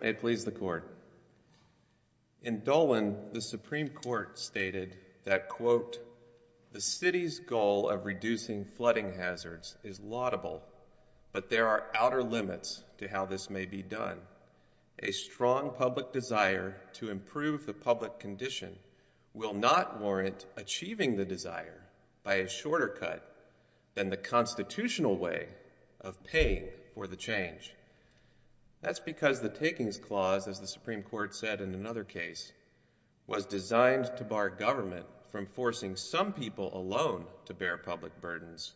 May it please the Court. In Dolan, the Supreme Court stated that, quote, the City's goal of reducing flooding hazards is laudable, but there are outer limits to how this may be done. A strong public desire to improve the public condition will not warrant achieving the desire by a shorter cut than the constitutional way of paying for the change. That's because the Takings Clause, as the Supreme Court said in another case, was designed to bar government from forcing some people alone to bear public burdens,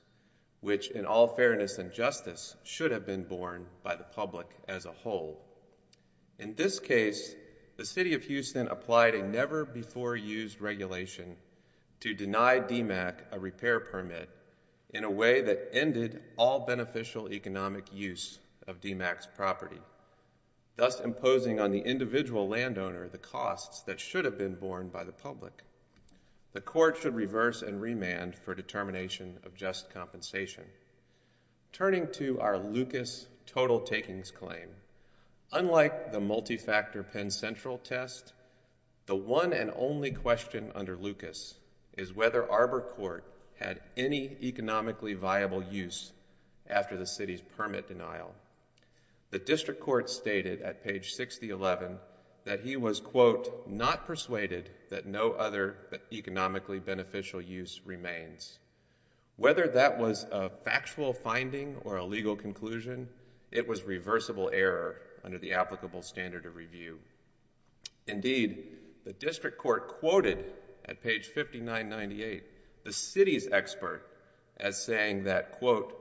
which in all fairness and justice should have been borne by the public as a whole. In this case, the City of Houston applied a never-before-used regulation to deny DMACC a repair permit in a way that ended all beneficial economic use of DMACC's property, thus imposing on the individual landowner the costs that should have been borne by the public. The Court should reverse and remand for determination of just compensation. Turning to our Lucas total takings claim, unlike the multi-factor Penn Central test, the one and only question under Lucas is whether Arbor Court had any economically viable use after the City's permit denial. The District Court stated at page 6011 that he was, quote, not persuaded that no other economically beneficial use remains. Whether that was a factual finding or a legal conclusion, it was reversible error under the applicable standard of review. Indeed, the District Court quoted at page 5998 the City's expert as saying that, quote,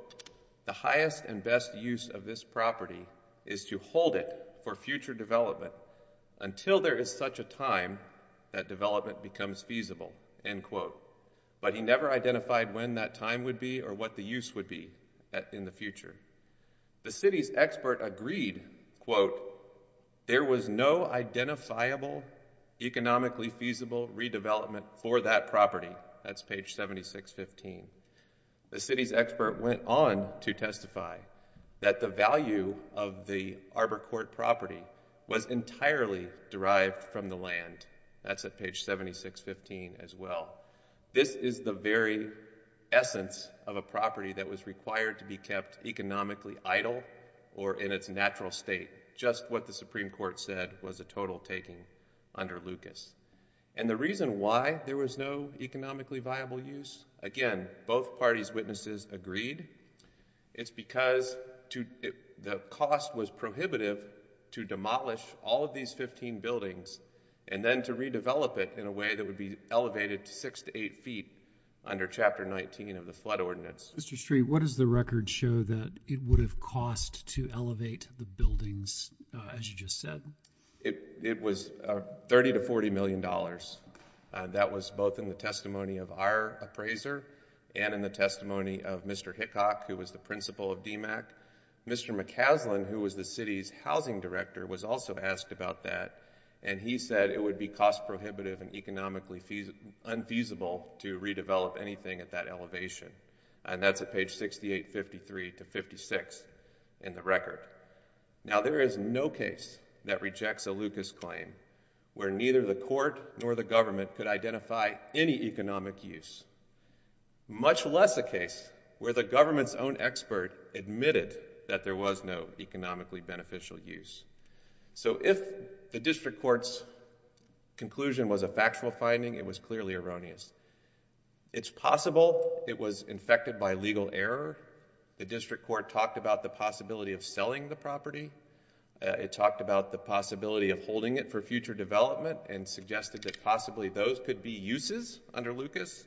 the highest and best use of this property is to hold it for future development until there is such a time that development becomes feasible, end quote. But he never identified when that time would be or what the use would be in the future. The City's expert agreed, quote, there was no identifiable economically feasible redevelopment for that property. That's page 7615. The City's expert went on to testify that the value of the Arbor Court property was entirely derived from the land. That's at page 7615 as well. This is the very essence of a property that was required to be kept economically idle or in its natural state. Just what the Supreme Court said was a total taking under Lucas. And the reason why there was no economically viable use, again, both parties' witnesses agreed, it's because the cost was prohibitive to demolish all of these 15 buildings and then to redevelop it in a way that would be elevated to 6 to 8 feet under Chapter 19 of the Flood Ordinance. Mr. Street, what does the record show that it would have cost to elevate the buildings as you just said? It was $30 to $40 million. That was both in the testimony of our appraiser and in the testimony of Mr. Hickock, who was the principal of DMACC. Mr. McCaslin, who was the City's housing director, was also asked about that. And he said it would be cost prohibitive and economically unfeasible to redevelop anything at that elevation. And that's at page 6853 to 56 in the record. Now there is no case that rejects a Lucas claim where neither the court nor the government could identify any economic use, much less a case where the government's own expert admitted that there was no economically beneficial use. So if the district court's conclusion was a factual finding, it was clearly erroneous. It's possible it was infected by legal error. The district court talked about the possibility of selling the property. It talked about the possibility of holding it for future development and suggested that possibly those could be uses under Lucas.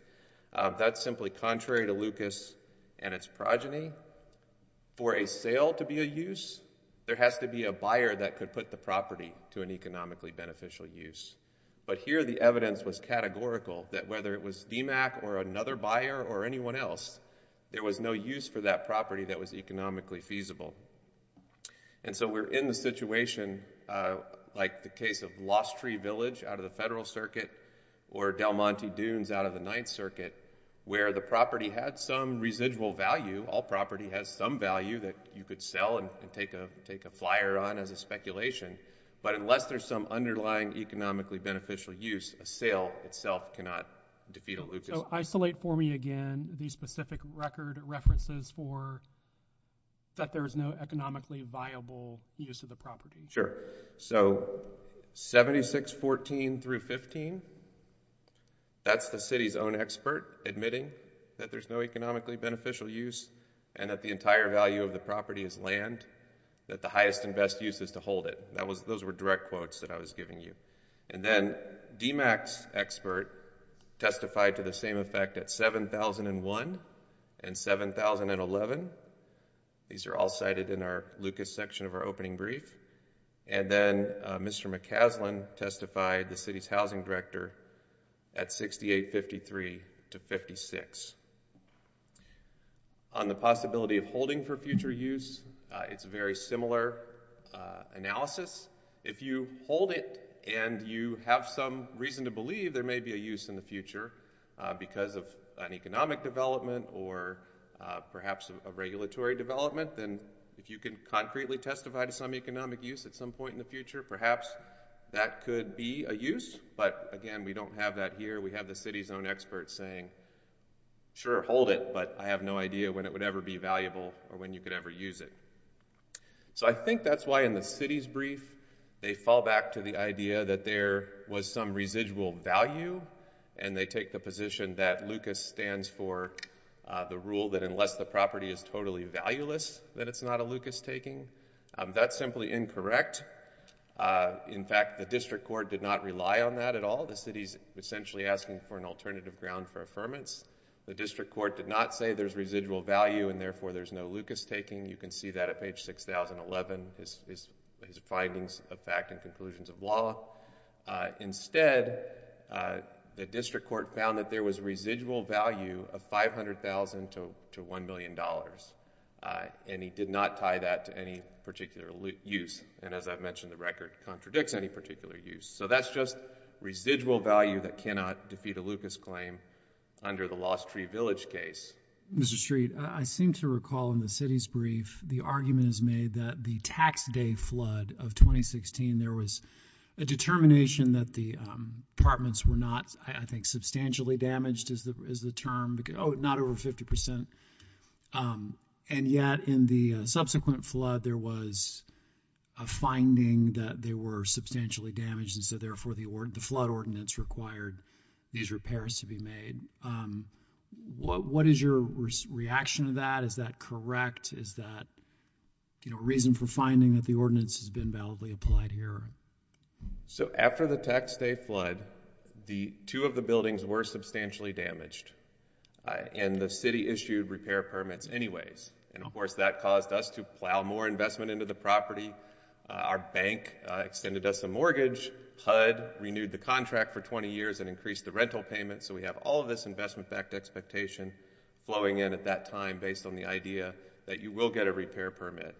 That's simply contrary to Lucas and its progeny. For a sale to be a use, there has to be a buyer that could put the property to an economically beneficial use. But here the evidence was categorical that whether it was DMACC or another buyer or anyone else, there was no use for that property that was economically feasible. And so we're in the situation, like the case of Lost Tree Village out of the Federal Circuit or Del Monte Dunes out of the Ninth Circuit, where the property had some residual value, all property has some value that you could sell and take a flyer on as a speculation. But unless there's some underlying economically beneficial use, a sale itself cannot defeat a Lucas. So isolate for me again the specific record references for that there is no economically viable use of the property. Sure. So 7614 through 15, that's the city's own expert admitting that there's no economically beneficial use and that the entire value of the property is land, that the highest and best use is to hold it. Those were direct quotes that I was giving you. And then DMACC's expert testified to the same effect at 7001 and 7011. These are all cited in our Lucas section of our opening brief. And then Mr. McCaslin testified, the city's housing director, at 6853 to 56. On the possibility of holding for future use, it's a very similar analysis. If you hold it and you have some reason to believe there may be a use in the future because of an economic development or perhaps a regulatory development, then if you can concretely testify to some economic use at some point in the future, perhaps that could be a use. But again, we don't have that here. We have the city's own expert saying, sure, hold it, but I have no idea when it would ever be valuable or when you could ever use it. So I think that's why in the city's brief they fall back to the idea that there was some residual value and they take the position that Lucas stands for the rule that unless the property is totally valueless, that it's not a Lucas taking. That's simply incorrect. In fact, the district court did not rely on that at all. The city's essentially asking for an alternative ground for affirmance. The district court did not say there's residual value and therefore there's no Lucas taking. You can see that at page 6011, his findings of fact and conclusions of law. Instead, the district court found that there was residual value of $500,000 to $1,000,000 and he did not tie that to any particular use. As I've mentioned, the record contradicts any particular use. So that's just residual value that cannot defeat a Lucas claim under the Lost Tree Village case. Mr. Street, I seem to recall in the city's brief, the argument is made that the tax day flood of 2016, there was a determination that the apartments were not, I think, substantially damaged is the term, not over 50%. And yet in the subsequent flood, there was a finding that they were substantially damaged and so therefore the flood ordinance required these repairs to be made. What is your reaction to that? Is that correct? Is that a reason for finding that the ordinance has been validly applied here? So after the tax day flood, two of the buildings were substantially damaged and the city issued repair permits anyways. And of course, that caused us to plow more investment into the property. Our bank extended us a mortgage, HUD renewed the contract for 20 years and increased the rental payment. So we have all of this investment backed expectation flowing in at that time based on the idea that you will get a repair permit.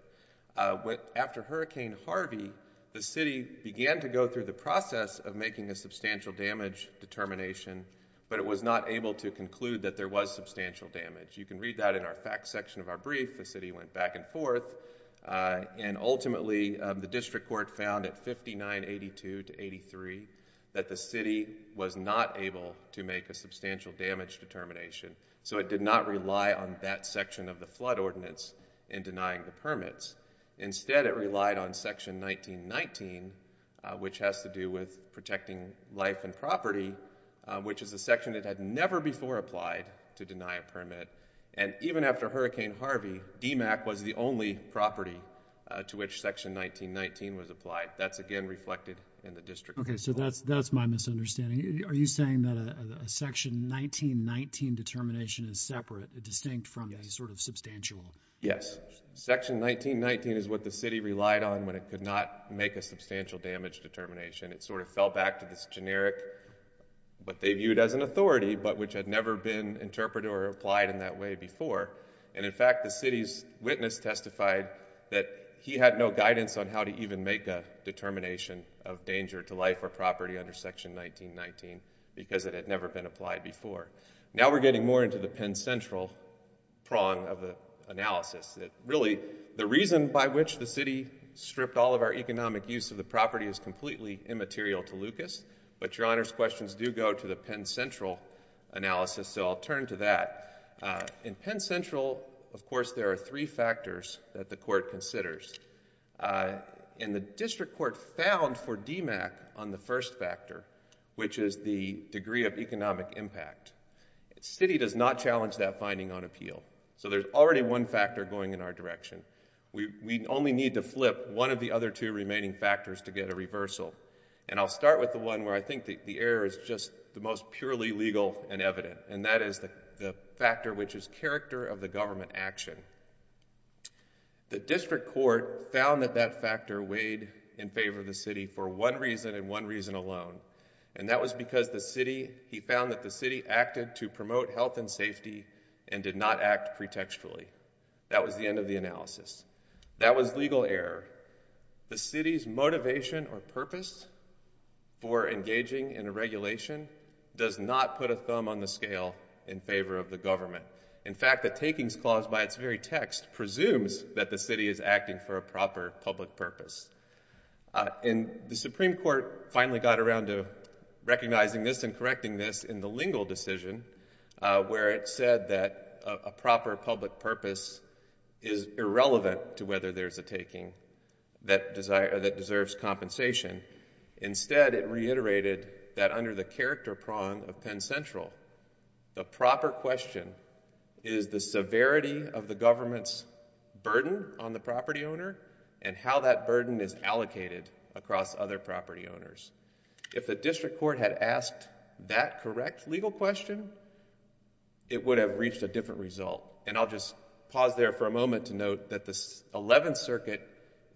After Hurricane Harvey, the city began to go through the process of making a substantial damage determination, but it was not able to conclude that there was substantial damage. You can read that in our facts section of our brief. The city went back and forth and ultimately the district court found at 5982 to 83 that the city was not able to make a substantial damage determination. So it did not rely on that section of the flood ordinance in denying the permits. Instead it relied on section 1919, which has to do with protecting life and property, which is a section that had never before applied to deny a permit. And even after Hurricane Harvey, DMACC was the only property to which section 1919 was applied. That's again reflected in the district court. Okay. So that's my misunderstanding. Are you saying that a section 1919 determination is separate, distinct from the sort of substantial? Yes. Section 1919 is what the city relied on when it could not make a substantial damage determination. It sort of fell back to this generic, what they viewed as an authority, but which had never been interpreted or applied in that way before. And in fact, the city's witness testified that he had no guidance on how to even make a determination of danger to life or property under section 1919, because it had never been applied before. Now we're getting more into the Penn Central prong of the analysis. Really the reason by which the city stripped all of our economic use of the property is completely immaterial to Lucas, but Your Honor's questions do go to the Penn Central analysis, so I'll turn to that. In Penn Central, of course, there are three factors that the court considers. And the district court found for DMACC on the first factor, which is the degree of economic impact, the city does not challenge that finding on appeal. So there's already one factor going in our direction. We only need to flip one of the other two remaining factors to get a reversal. And I'll start with the one where I think the error is just the most purely legal and evident, and that is the factor which is character of the government action. The district court found that that factor weighed in favor of the city for one reason and one reason alone, and that was because the city, he found that the city acted to promote health and safety and did not act pretextually. That was the end of the analysis. That was legal error. The city's motivation or purpose for engaging in a regulation does not put a thumb on the scale in favor of the government. In fact, the takings clause by its very text presumes that the city is acting for a proper public purpose. And the Supreme Court finally got around to recognizing this and correcting this in the Lingle decision, where it said that a proper public purpose is irrelevant to whether there's a taking that deserves compensation. Instead, it reiterated that under the character prong of Penn Central, the proper question is the severity of the government's burden on the property owner and how that burden is allocated across other property owners. If the district court had asked that correct legal question, it would have reached a different result. And I'll just pause there for a moment to note that the 11th Circuit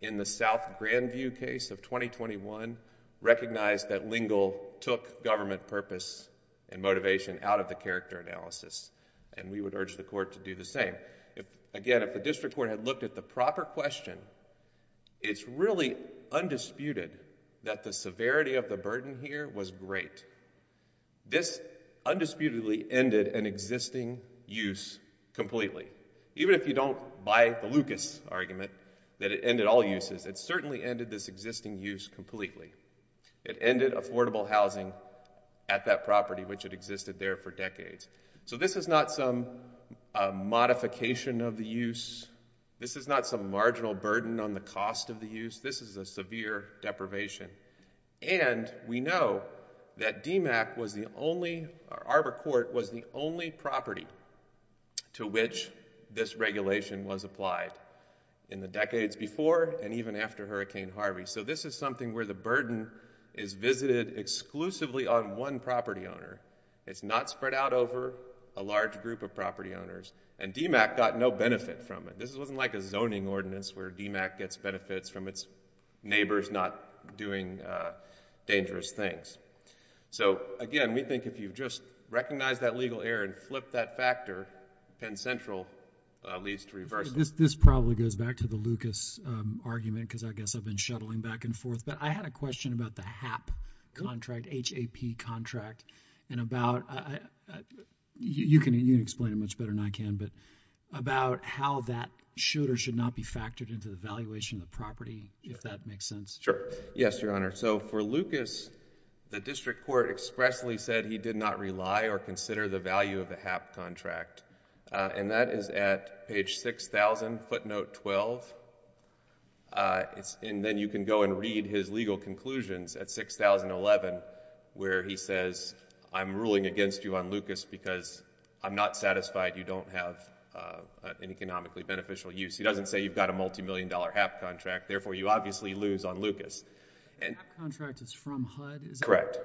in the South Grandview case of 2021 recognized that Lingle took government purpose and motivation out of the character analysis, and we would urge the court to do the same. Again, if the district court had looked at the proper question, it's really undisputed that the severity of the burden here was great. This undisputedly ended an existing use completely, even if you don't buy the Lucas argument that it ended all uses. It certainly ended this existing use completely. It ended affordable housing at that property, which had existed there for decades. So this is not some modification of the use. This is not some marginal burden on the cost of the use. This is a severe deprivation. And we know that DMACC was the only, or Arbor Court, was the only property to which this So this is something where the burden is visited exclusively on one property owner. It's not spread out over a large group of property owners, and DMACC got no benefit from it. This wasn't like a zoning ordinance where DMACC gets benefits from its neighbors not doing dangerous things. So again, we think if you just recognize that legal error and flip that factor, Penn Central leads to reversal. This probably goes back to the Lucas argument, because I guess I've been shuttling back and forth. But I had a question about the HAP contract, H-A-P contract, and about, you can explain it much better than I can, but about how that should or should not be factored into the valuation of the property, if that makes sense. Sure. Yes, Your Honor. So for Lucas, the district court expressly said he did not rely or consider the value of the HAP contract. And that is at page 6,000, footnote 12. And then you can go and read his legal conclusions at 6,011, where he says, I'm ruling against you on Lucas because I'm not satisfied you don't have an economically beneficial use. He doesn't say you've got a multimillion dollar HAP contract, therefore you obviously lose on Lucas. The HAP contract is from HUD? Correct.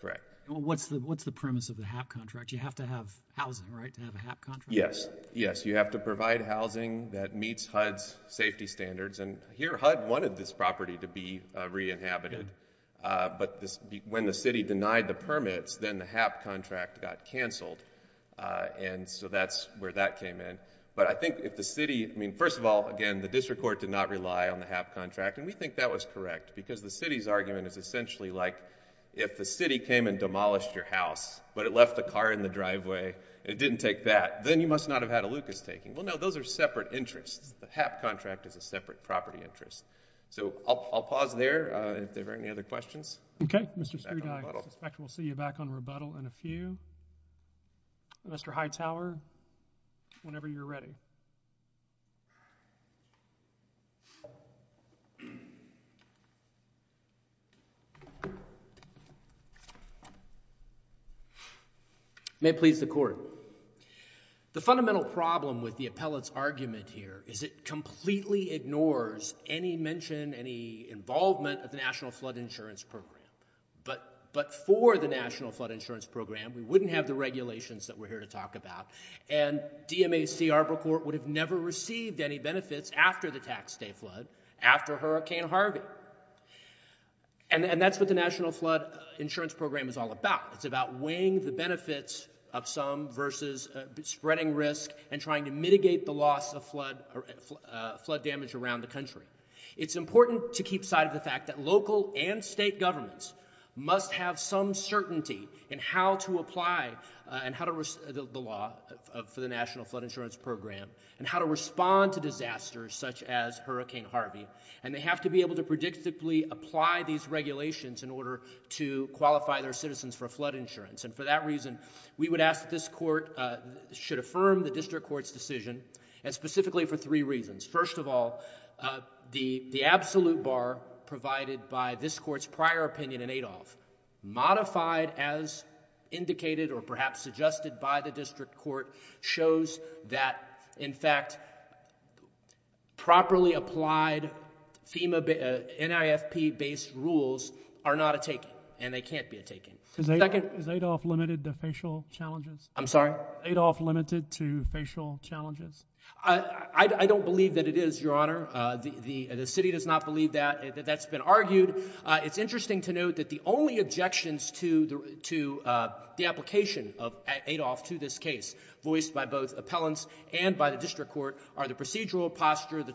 Correct. What's the premise of the HAP contract? You have to have housing, right, to have a HAP contract? Yes. Yes. You have to provide housing that meets HUD's safety standards. And here HUD wanted this property to be re-inhabited. But when the city denied the permits, then the HAP contract got canceled. And so that's where that came in. But I think if the city, I mean, first of all, again, the district court did not rely on the HAP contract. And we think that was correct. Because the city's argument is essentially like, if the city came and demolished your property in the driveway and it didn't take that, then you must not have had a Lucas taking. Well, no. Those are separate interests. The HAP contract is a separate property interest. So I'll pause there if there are any other questions. Okay. Mr. Strude, I suspect we'll see you back on rebuttal in a few. And Mr. Hightower, whenever you're ready. May it please the court. The fundamental problem with the appellate's argument here is it completely ignores any mention, any involvement of the National Flood Insurance Program. But for the National Flood Insurance Program, we wouldn't have the regulations that we're here to talk about. And DMAC Arbor Court would have never received any benefits after the Tax Day Flood, after Hurricane Harvey. And that's what the National Flood Insurance Program is all about. It's about weighing the benefits of some versus spreading risk and trying to mitigate the loss of flood damage around the country. It's important to keep side of the fact that local and state governments must have some certainty in how to apply the law for the National Flood Insurance Program and how to respond to disasters such as Hurricane Harvey. And they have to be able to predictably apply these regulations in order to qualify their citizens for flood insurance. And for that reason, we would ask that this court should affirm the district court's decision and specifically for three reasons. First of all, the absolute bar provided by this court's prior opinion in Adolph, modified as indicated or perhaps suggested by the district court, shows that, in fact, properly applied NIFP-based rules are not a take-in. And they can't be a take-in. Is Adolph limited to facial challenges? I'm sorry? Adolph limited to facial challenges? I don't believe that it is, Your Honor. The city does not believe that. That's been argued. It's interesting to note that the only objections to the application of Adolph to this case voiced by both appellants and by the district court are the procedural posture, the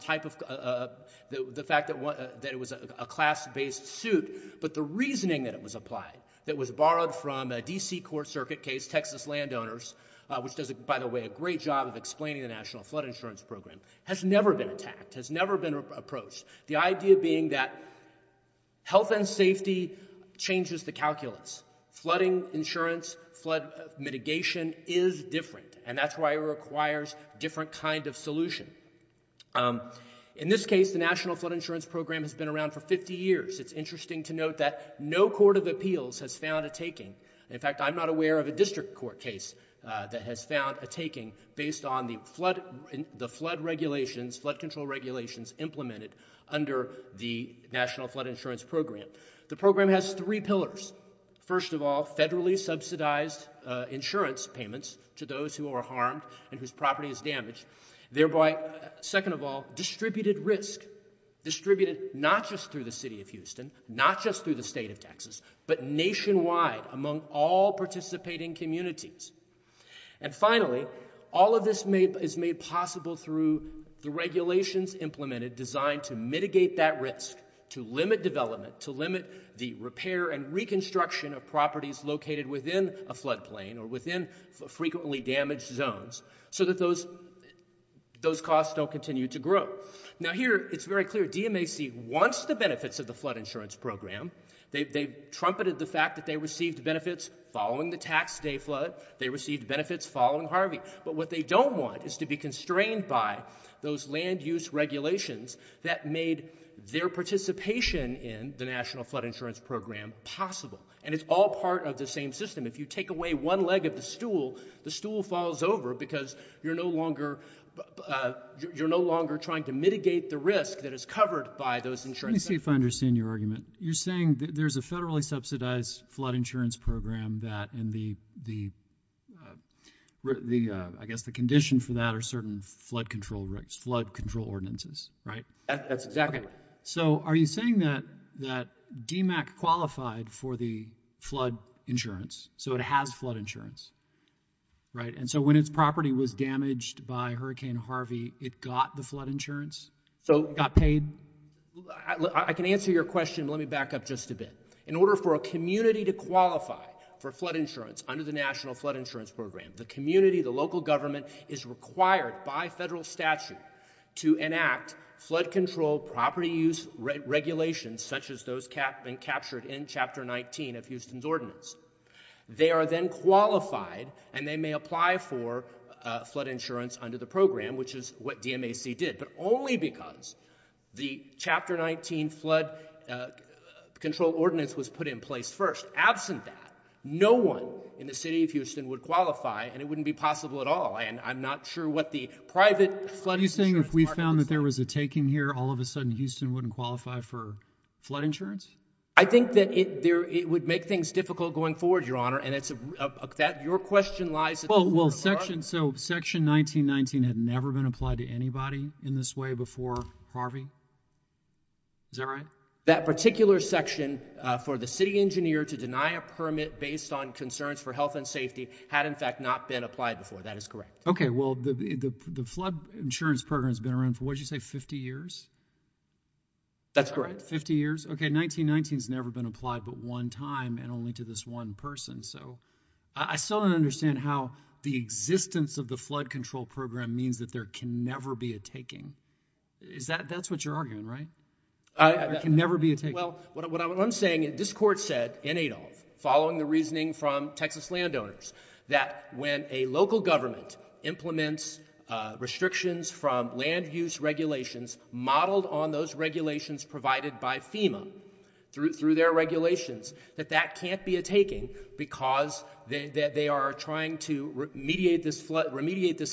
fact that it was a class-based suit, but the reasoning that it was applied, that was borrowed from a D.C. court circuit case, Texas Landowners, which does, by the way, a great job of explaining the National Flood Insurance Program, has never been attacked, has never been approached, the idea being that health and safety changes the calculus. Flooding insurance, flood mitigation is different, and that's why it requires a different kind of solution. In this case, the National Flood Insurance Program has been around for 50 years. It's interesting to note that no court of appeals has found a take-in. In fact, I'm not aware of a district court case that has found a taking based on the flood regulations, flood control regulations implemented under the National Flood Insurance Program. The program has three pillars. First of all, federally subsidized insurance payments to those who are harmed and whose property is damaged, thereby, second of all, distributed risk, distributed not just through the city of Houston, not just through the state of Texas, but nationwide among all participating communities. And finally, all of this is made possible through the regulations implemented designed to mitigate that risk, to limit development, to limit the repair and reconstruction of properties located within a flood plain or within frequently damaged zones so that those costs don't continue to grow. Now here, it's very clear, DMAC wants the benefits of the flood insurance program. They trumpeted the fact that they received benefits following the tax day flood. They received benefits following Harvey. But what they don't want is to be constrained by those land use regulations that made their participation in the National Flood Insurance Program possible. And it's all part of the same system. If you take away one leg of the stool, the stool falls over because you're no longer trying to mitigate the risk that is covered by those insurance programs. Let me see if I understand your argument. You're saying that there's a federally subsidized flood insurance program that in the, I guess the condition for that are certain flood control ordinances, right? That's exactly right. So are you saying that DMAC qualified for the flood insurance, so it has flood insurance, right? And so when its property was damaged by Hurricane Harvey, it got the flood insurance? So it got paid? I can answer your question, but let me back up just a bit. In order for a community to qualify for flood insurance under the National Flood Insurance Program, the community, the local government is required by federal statute to enact flood control property use regulations such as those captured in Chapter 19 of Houston's Ordinance. They are then qualified, and they may apply for flood insurance under the program, which is what DMAC did, but only because the Chapter 19 flood control ordinance was put in place first. Absent that, no one in the city of Houston would qualify, and it wouldn't be possible at all. And I'm not sure what the private flood insurance part of this is. Are you saying if we found that there was a taking here, all of a sudden Houston wouldn't qualify for flood insurance? I think that it would make things difficult going forward, Your Honor, and your question lies at the heart of our argument. So Section 1919 had never been applied to anybody in this way before Harvey? Is that right? That particular section for the city engineer to deny a permit based on concerns for health and safety had, in fact, not been applied before. That is correct. Okay. Well, the flood insurance program has been around for, what did you say, 50 years? That's correct. 50 years. Okay. 1919 has never been applied but one time and only to this one person. So I still don't understand how the existence of the flood control program means that there can never be a taking. That's what you're arguing, right? There can never be a taking. Well, what I'm saying, this Court said in Adolph, following the reasoning from Texas landowners, that when a local government implements restrictions from land use regulations modeled on those regulations provided by FEMA, through their regulations, that that can't be a taking because they are trying to remediate this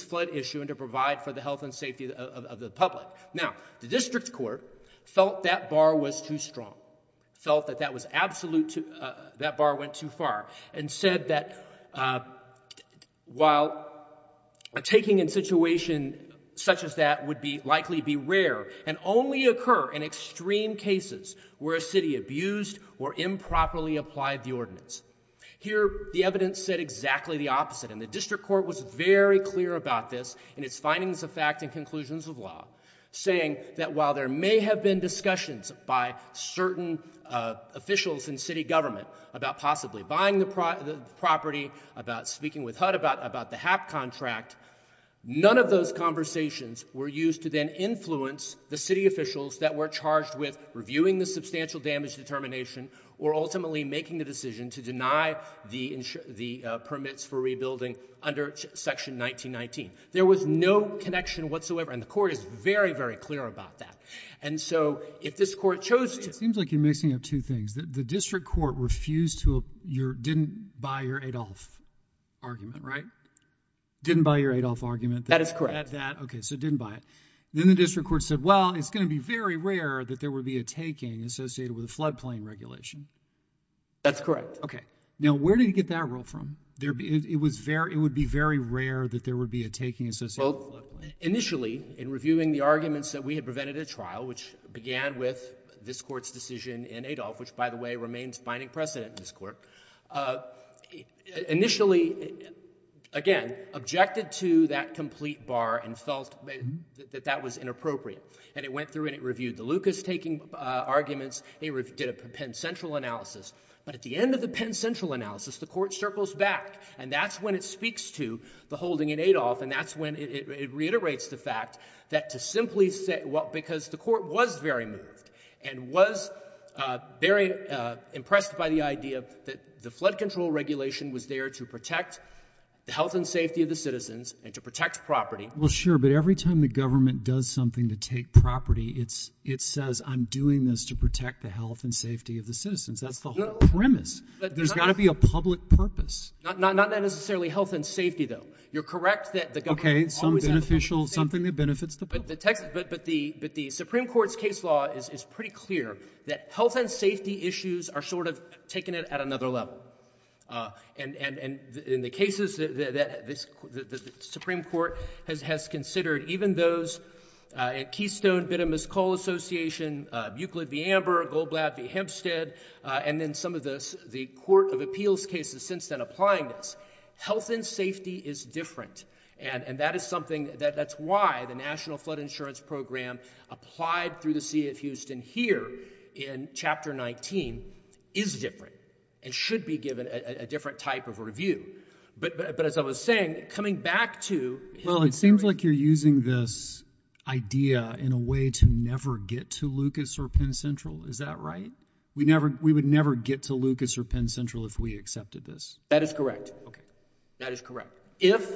flood issue and to provide for the health and safety of the public. Now, the District Court felt that bar was too strong, felt that that bar went too far, and said that while a taking in a situation such as that would likely be rare and only occur in extreme cases where a city abused or improperly applied the ordinance. Here the evidence said exactly the opposite and the District Court was very clear about this in its findings of fact and conclusions of law, saying that while there may have been a property about speaking with HUD about the HAP contract, none of those conversations were used to then influence the city officials that were charged with reviewing the substantial damage determination or ultimately making the decision to deny the permits for rebuilding under Section 1919. There was no connection whatsoever and the Court is very, very clear about that. Didn't buy your Adolph argument, right? Didn't buy your Adolph argument. That is correct. Okay. So didn't buy it. Then the District Court said, well, it's going to be very rare that there would be a taking associated with a floodplain regulation. That's correct. Okay. Now, where did you get that rule from? It would be very rare that there would be a taking associated with a floodplain. Initially in reviewing the arguments that we had prevented at trial, which began with this Court's decision in Adolph, which, by the way, remains binding precedent in this Court, initially, again, objected to that complete bar and felt that that was inappropriate. And it went through and it reviewed the Lucas taking arguments, it did a Penn Central analysis. But at the end of the Penn Central analysis, the Court circles back and that's when it speaks to the holding in Adolph and that's when it reiterates the fact that to simply the Court was very moved and was very impressed by the idea that the flood control regulation was there to protect the health and safety of the citizens and to protect property. Well, sure. But every time the government does something to take property, it says, I'm doing this to protect the health and safety of the citizens. That's the whole premise. There's got to be a public purpose. Not necessarily health and safety, though. You're correct that the government always has a public purpose. Okay. Some beneficial, something that benefits the public. But the Supreme Court's case law is pretty clear that health and safety issues are sort of taking it at another level. And in the cases that the Supreme Court has considered, even those at Keystone, Bidham and Scull Association, Buclid v. Amber, Goldblatt v. Hempstead, and then some of the Court of Appeals cases since then applying this, health and safety is different. And that is something, that's why the National Flood Insurance Program applied through the city of Houston here in Chapter 19 is different and should be given a different type of review. But as I was saying, coming back to... Well, it seems like you're using this idea in a way to never get to Lucas or Penn Central. Is that right? We would never get to Lucas or Penn Central if we accepted this. That is correct. Okay. If,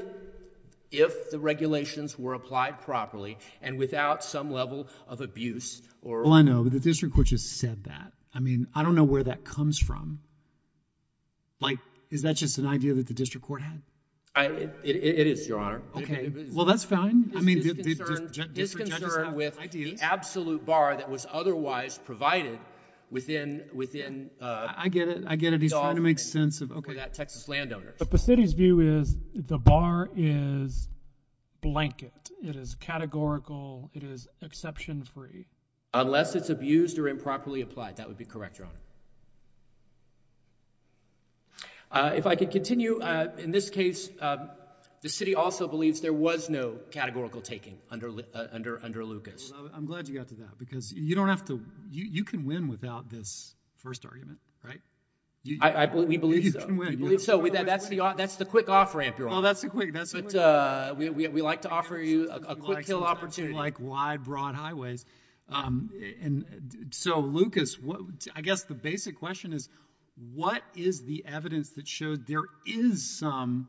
if the regulations were applied properly and without some level of abuse or... Well, I know. But the district court just said that. I mean, I don't know where that comes from. Like, is that just an idea that the district court had? It, it is, Your Honor. Okay. Well, that's fine. I mean, the district judge does have ideas. It is concerned with the absolute bar that was otherwise provided within, within... I get it. I get it. He's trying to make sense of... He's trying to make sense of the bar that Texas landowners... But the city's view is the bar is blanket. It is categorical. It is exception-free. Unless it's abused or improperly applied, that would be correct, Your Honor. If I could continue, in this case, the city also believes there was no categorical taking under Lucas. I'm glad you got to that because you don't have to... you can win without this first argument, right? We believe so. You can win. You can win. You can win. That's the quick off-ramp, Your Honor. Well, that's the quick... We like to offer you a quick-kill opportunity. Like wide, broad highways. And so, Lucas, I guess the basic question is, what is the evidence that showed there is some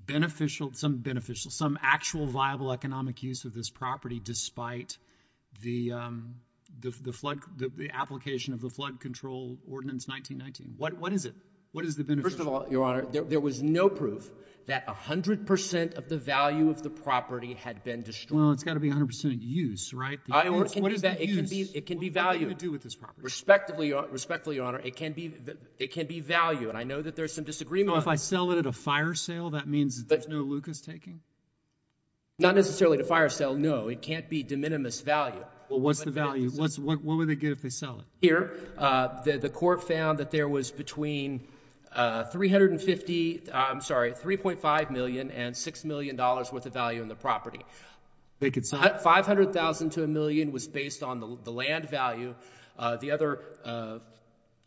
beneficial... some beneficial... some actual viable economic use of this property despite the flood, the application of the Flood Control Ordinance 1919? What is it? What is the beneficial... First of all, Your Honor, there was no proof that 100% of the value of the property had been destroyed. Well, it's got to be 100% use, right? The use... I... What is the use? It can be value. What do you do with this property? Respectfully, Your Honor, it can be value. And I know that there's some disagreement. So, if I sell it at a fire sale, that means that there's no Lucas taking? Not necessarily at a fire sale, no. It can't be de minimis value. Well, what's the value? What would they get if they sell it? Here, the court found that there was between 350... I'm sorry, $3.5 million and $6 million worth of value in the property. They could sell it? $500,000 to a million was based on the land value. The other $3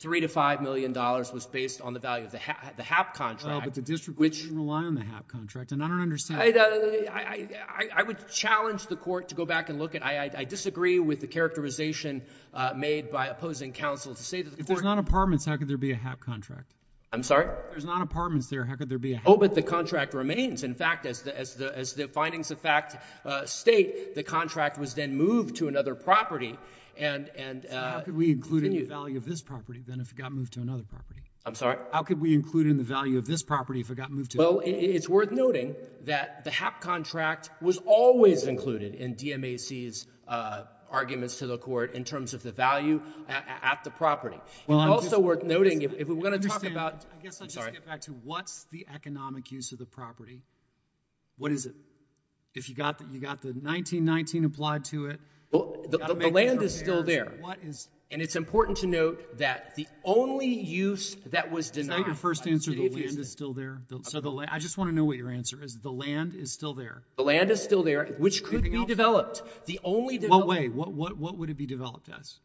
to $5 million was based on the value of the HAP contract. Well, but the district didn't rely on the HAP contract, and I don't understand... I... I would challenge the court to go back and look at... I disagree with the opposing counsel to say that the... If there's not apartments, how could there be a HAP contract? I'm sorry? If there's not apartments there, how could there be a HAP contract? Oh, but the contract remains. In fact, as the findings of fact state, the contract was then moved to another property and... So, how could we include in the value of this property, then, if it got moved to another property? I'm sorry? How could we include in the value of this property if it got moved to another property? Well, it's worth noting that the HAP contract was always included in DMAC's arguments to the court in terms of the value at the property. It's also worth noting... If we're going to talk about... I guess I'll just get back to what's the economic use of the property? What is it? If you got the 1919 applied to it... Well, the land is still there, and it's important to note that the only use that was denied... Isn't that your first answer, the land is still there? So, the land... I just want to know what your answer is. The land is still there. The land is still there, which could be developed. The only development... In what way? What would it be developed as?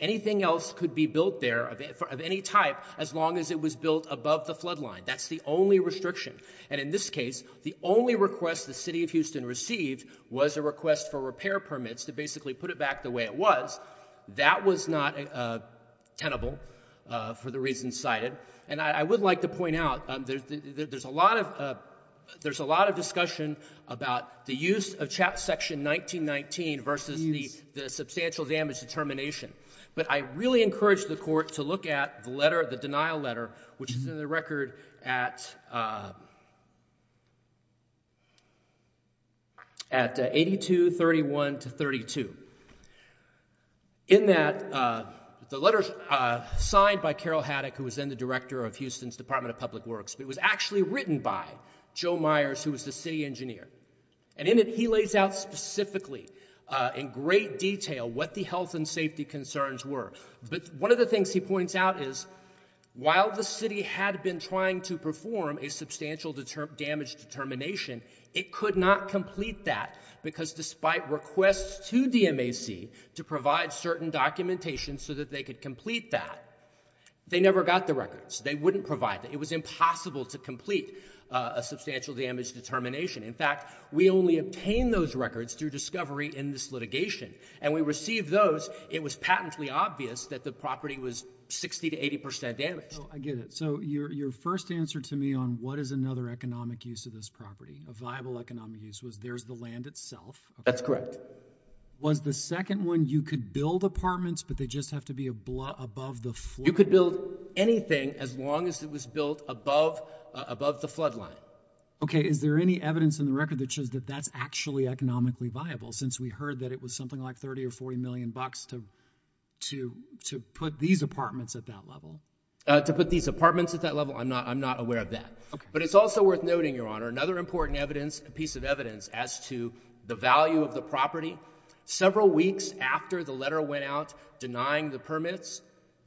Anything else could be built there of any type as long as it was built above the flood line. That's the only restriction. And, in this case, the only request the City of Houston received was a request for repair permits to basically put it back the way it was. That was not tenable for the reasons cited. And, I would like to point out, there's a lot of discussion about the use of CHAPS Section 1919 versus the substantial damage determination, but I really encourage the court to look at the letter, the denial letter, which is in the record at 82-31-32. In that, the letter is signed by Carol Haddock, who was then the director of Houston's Department of Public Works, but it was actually written by Joe Myers, who was the city engineer. And in it, he lays out specifically, in great detail, what the health and safety concerns were. But, one of the things he points out is, while the city had been trying to perform a substantial damage determination, it could not complete that because despite requests to DMAC to provide certain documentation so that they could complete that, they never got the records. They wouldn't provide them. It was impossible to complete a substantial damage determination. In fact, we only obtained those records through discovery in this litigation. And when we received those, it was patently obvious that the property was 60 to 80 percent damaged. I get it. So, your first answer to me on what is another economic use of this property, a viable economic use, was there's the land itself. That's correct. Was the second one, you could build apartments, but they just have to be above the flood line? You could build anything as long as it was built above the flood line. Okay. Is there any evidence in the record that shows that that's actually economically viable, since we heard that it was something like 30 or 40 million bucks to put these apartments at that level? To put these apartments at that level? I'm not aware of that. Okay. But it's also worth noting, Your Honor, another important piece of evidence as to the value of the property, several weeks after the letter went out denying the permits,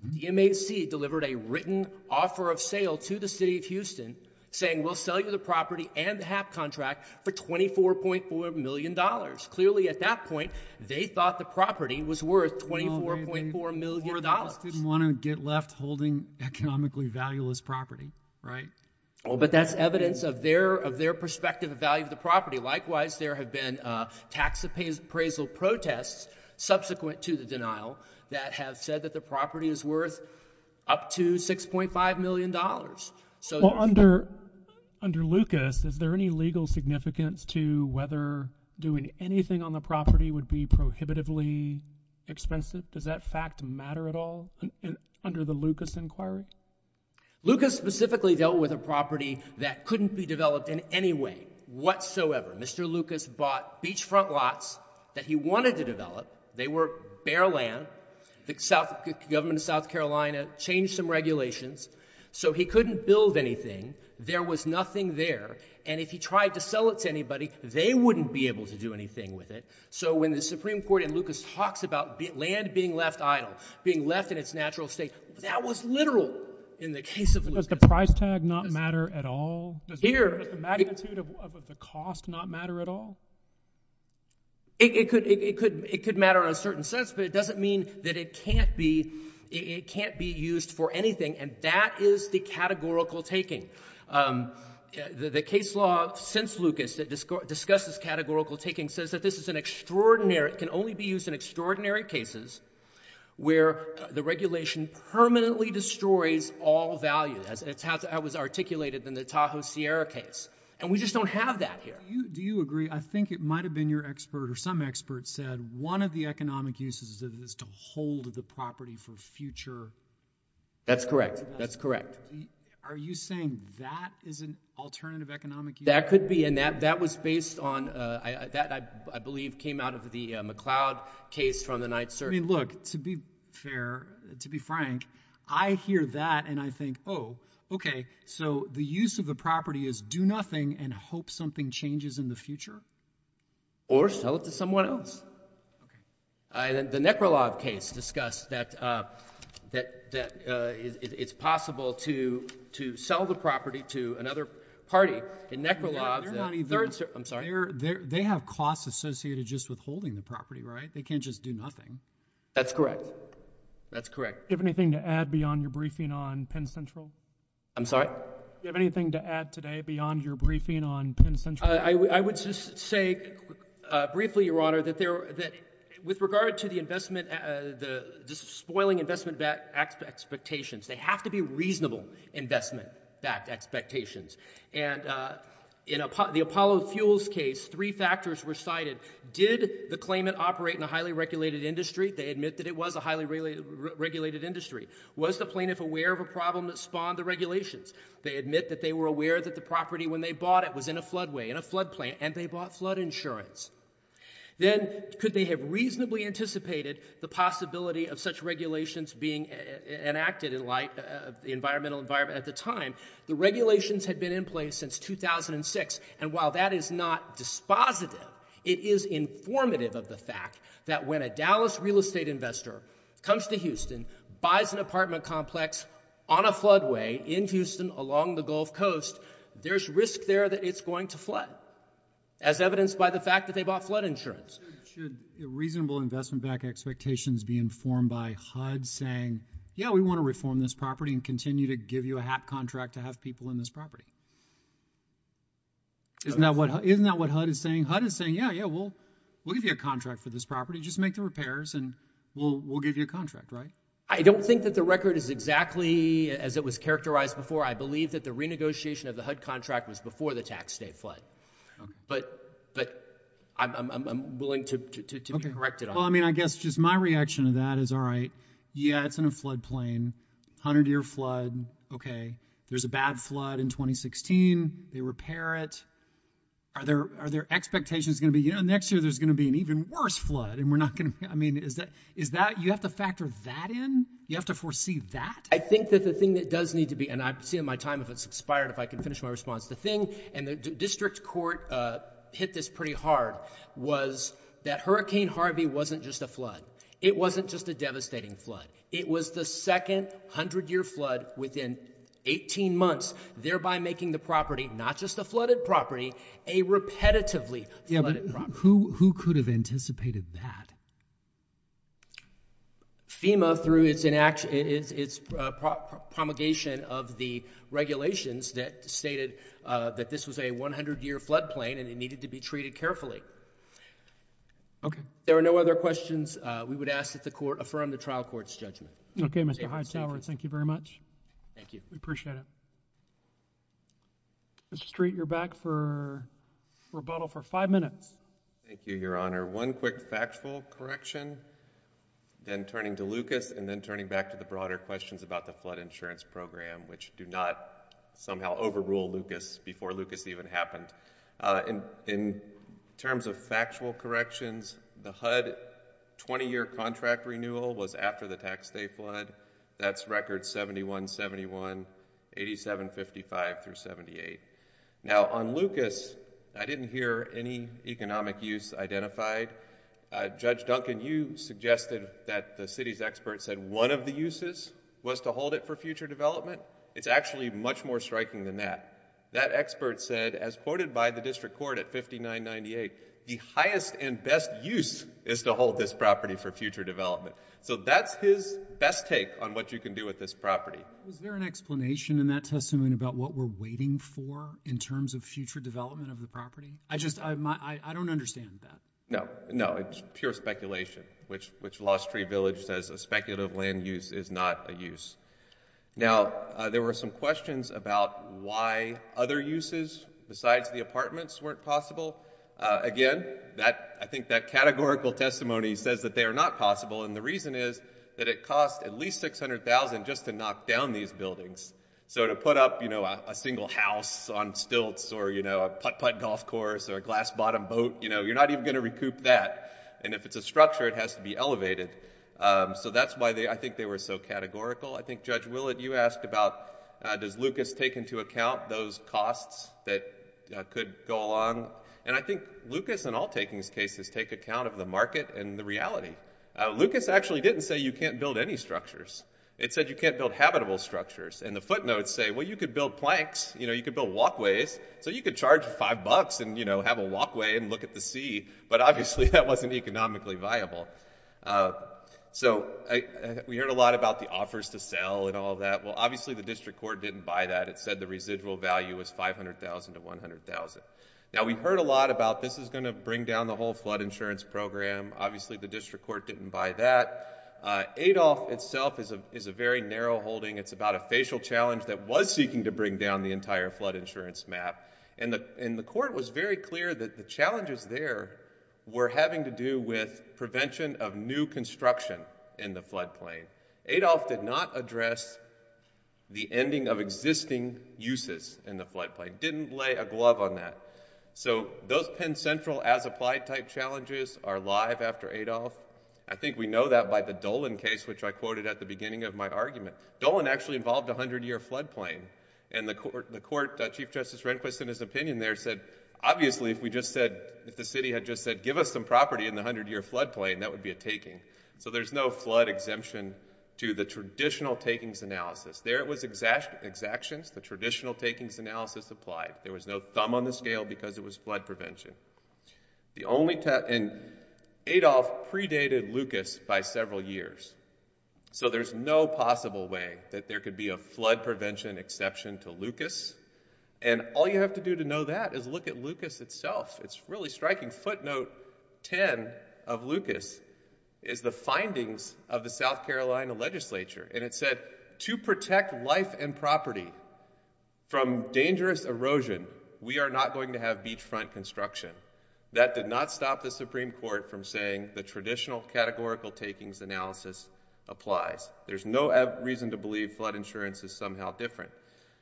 DMAC delivered a written offer of sale to the city of Houston saying, we'll sell you the property and the HAP contract for $24.4 million. Clearly at that point, they thought the property was worth $24.4 million. They didn't want to get left holding economically valueless property, right? But that's evidence of their perspective of value of the property. Likewise, there have been tax appraisal protests subsequent to the denial that have said that the property is worth up to $6.5 million. Under Lucas, is there any legal significance to whether doing anything on the property would be prohibitively expensive? Does that fact matter at all under the Lucas inquiry? Lucas specifically dealt with a property that couldn't be developed in any way whatsoever. Mr. Lucas bought beachfront lots that he wanted to develop. They were bare land. The government of South Carolina changed some regulations so he couldn't build anything. There was nothing there. And if he tried to sell it to anybody, they wouldn't be able to do anything with it. So when the Supreme Court in Lucas talks about land being left idle, being left in its natural state, that was literal in the case of Lucas. Does the price tag not matter at all? Does the magnitude of the cost not matter at all? It could matter in a certain sense, but it doesn't mean that it can't be used for anything. And that is the categorical taking. The case law since Lucas that discusses categorical taking says that this is an extraordinary, can only be used in extraordinary cases where the regulation permanently destroys all value. That's how it was articulated in the Tahoe Sierra case. And we just don't have that here. Do you agree? I think it might have been your expert or some expert said one of the economic uses is to hold the property for future. That's correct. That's correct. Are you saying that is an alternative economic use? That could be. And that was based on, that I believe came out of the McLeod case from the night search. I mean, look, to be fair, to be frank, I hear that and I think, oh, okay, so the use of the property is do nothing and hope something changes in the future? Or sell it to someone else. The Nekrolov case discussed that it's possible to sell the property to another party and Nekrolov, I'm sorry. They have costs associated just with holding the property, right? They can't just do nothing. That's correct. That's correct. Do you have anything to add beyond your briefing on Penn Central? I'm sorry? Do you have anything to add today beyond your briefing on Penn Central? I would just say briefly, Your Honor, that with regard to the investment, the spoiling investment expectations, they have to be reasonable investment-backed expectations. And in the Apollo Fuels case, three factors were cited. Did the claimant operate in a highly regulated industry? They admit that it was a highly regulated industry. Was the plaintiff aware of a problem that spawned the regulations? They admit that they were aware that the property when they bought it was in a floodway, in a floodplain, and they bought flood insurance. Then could they have reasonably anticipated the possibility of such regulations being enacted in light of the environmental environment at the time? The regulations had been in place since 2006. And while that is not dispositive, it is informative of the fact that when a Dallas real estate investor comes to Houston, buys an apartment complex on a floodway in Houston along the Gulf Coast, there's risk there that it's going to flood, as evidenced by the fact that they bought flood insurance. Should reasonable investment-backed expectations be informed by HUD saying, yeah, we want to reform this property and continue to give you a HAP contract to have people in this property? Isn't that what HUD is saying? HUD is saying, yeah, yeah, we'll give you a contract for this property. Just make the repairs, and we'll give you a contract, right? I don't think that the record is exactly as it was characterized before. I believe that the renegotiation of the HUD contract was before the tax day flood. But I'm willing to be corrected on that. Well, I mean, I guess just my reaction to that is, all right, yeah, it's in a floodplain, 100-year flood, OK, there's a bad flood in 2016, they repair it. Are their expectations going to be, you know, next year there's going to be an even worse flood? And we're not going to, I mean, is that, you have to factor that in? You have to foresee that? I think that the thing that does need to be, and I'm seeing my time, if it's expired, if I can finish my response. The thing, and the district court hit this pretty hard, was that Hurricane Harvey wasn't just a flood. It wasn't just a devastating flood. It was the second 100-year flood within 18 months, thereby making the property, not just a flooded property, a repetitively flooded property. Yeah, but who could have anticipated that? FEMA through its promulgation of the regulations that stated that this was a 100-year floodplain and it needed to be treated carefully. There are no other questions we would ask that the court affirm the trial court's judgment. OK, Mr. Heisauer, thank you very much. Thank you. We appreciate it. Mr. Street, you're back for rebuttal for five minutes. Thank you, Your Honor. One quick factual correction, then turning to Lucas, and then turning back to the broader questions about the flood insurance program, which do not somehow overrule Lucas before Lucas even happened. In terms of factual corrections, the HUD 20-year contract renewal was after the Tax Day flood. That's records 71-71, 87-55 through 78. Now on Lucas, I didn't hear any economic use identified. Judge Duncan, you suggested that the city's expert said one of the uses was to hold it for future development. It's actually much more striking than that. That expert said, as quoted by the district court at 59-98, the highest and best use is to hold this property for future development. So that's his best take on what you can do with this property. Was there an explanation in that testimony about what we're waiting for in terms of future development of the property? I just, I don't understand that. No, no. It's pure speculation, which Lost Tree Village says a speculative land use is not a use. Now there were some questions about why other uses besides the apartments weren't possible. Again, I think that categorical testimony says that they are not possible, and the reason is that it costs at least $600,000 just to knock down these buildings. So to put up a single house on stilts or a putt-putt golf course or a glass bottom boat, you're not even going to recoup that, and if it's a structure, it has to be elevated. So that's why I think they were so categorical. I think Judge Willett, you asked about, does Lucas take into account those costs that could go along, and I think Lucas in all takings cases take account of the market and the reality. Lucas actually didn't say you can't build any structures. It said you can't build habitable structures, and the footnotes say, well, you could build planks. You know, you could build walkways. So you could charge five bucks and, you know, have a walkway and look at the sea, but obviously that wasn't economically viable. So we heard a lot about the offers to sell and all that. Well, obviously the district court didn't buy that. It said the residual value was $500,000 to $100,000. Now we heard a lot about this is going to bring down the whole flood insurance program. Obviously the district court didn't buy that. Adolph itself is a very narrow holding. It's about a facial challenge that was seeking to bring down the entire flood insurance map, and the court was very clear that the challenges there were having to do with prevention of new construction in the floodplain. Adolph did not address the ending of existing uses in the floodplain, didn't lay a glove on that. So those Penn Central as-applied type challenges are live after Adolph. I think we know that by the Dolan case, which I quoted at the beginning of my argument. Dolan actually involved a 100-year floodplain, and the court, Chief Justice Rehnquist in his opinion there said, obviously if we just said, if the city had just said, give us some property in the 100-year floodplain, that would be a taking. So there's no flood exemption to the traditional takings analysis. There it was exactions, the traditional takings analysis applied. There was no thumb on the scale because it was flood prevention. The only time, and Adolph predated Lucas by several years, so there's no possible way that there could be a flood prevention exception to Lucas, and all you have to do to know that is look at Lucas itself. It's really striking. Footnote 10 of Lucas is the findings of the South Carolina legislature, and it said, to protect life and property from dangerous erosion, we are not going to have beachfront construction. That did not stop the Supreme Court from saying the traditional categorical takings analysis applies. There's no reason to believe flood insurance is somehow different.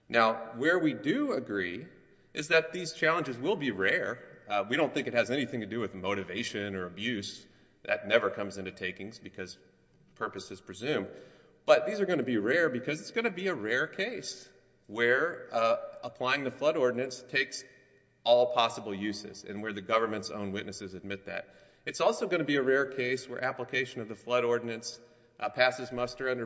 Now where we do agree is that these challenges will be rare. We don't think it has anything to do with motivation or abuse. That never comes into takings because purpose is presumed, but these are going to be rare because it's going to be a rare case where applying the flood ordinance takes all possible uses and where the government's own witnesses admit that. It's also going to be a rare case where application of the flood ordinance passes muster under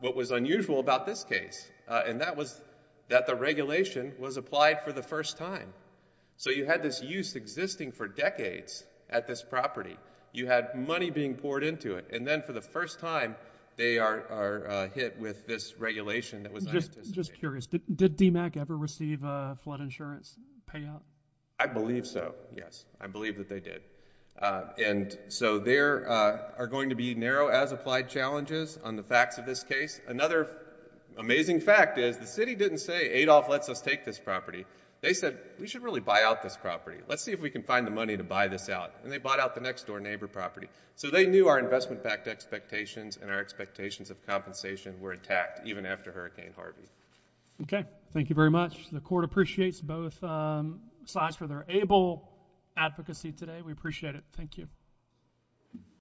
what was unusual about this case, and that was that the regulation was applied for the first time. So you had this use existing for decades at this property. You had money being poured into it, and then for the first time, they are hit with this regulation that was unanticipated. Just curious, did DMACC ever receive flood insurance payout? I believe so, yes. I believe that they did, and so there are going to be narrow as applied challenges on the facts of this case. Another amazing fact is the city didn't say Adolph lets us take this property. They said we should really buy out this property. Let's see if we can find the money to buy this out, and they bought out the next door neighbor property. So they knew our investment backed expectations and our expectations of compensation were intact even after Hurricane Harvey. Okay, thank you very much. The court appreciates both sides for their able advocacy today. We appreciate it.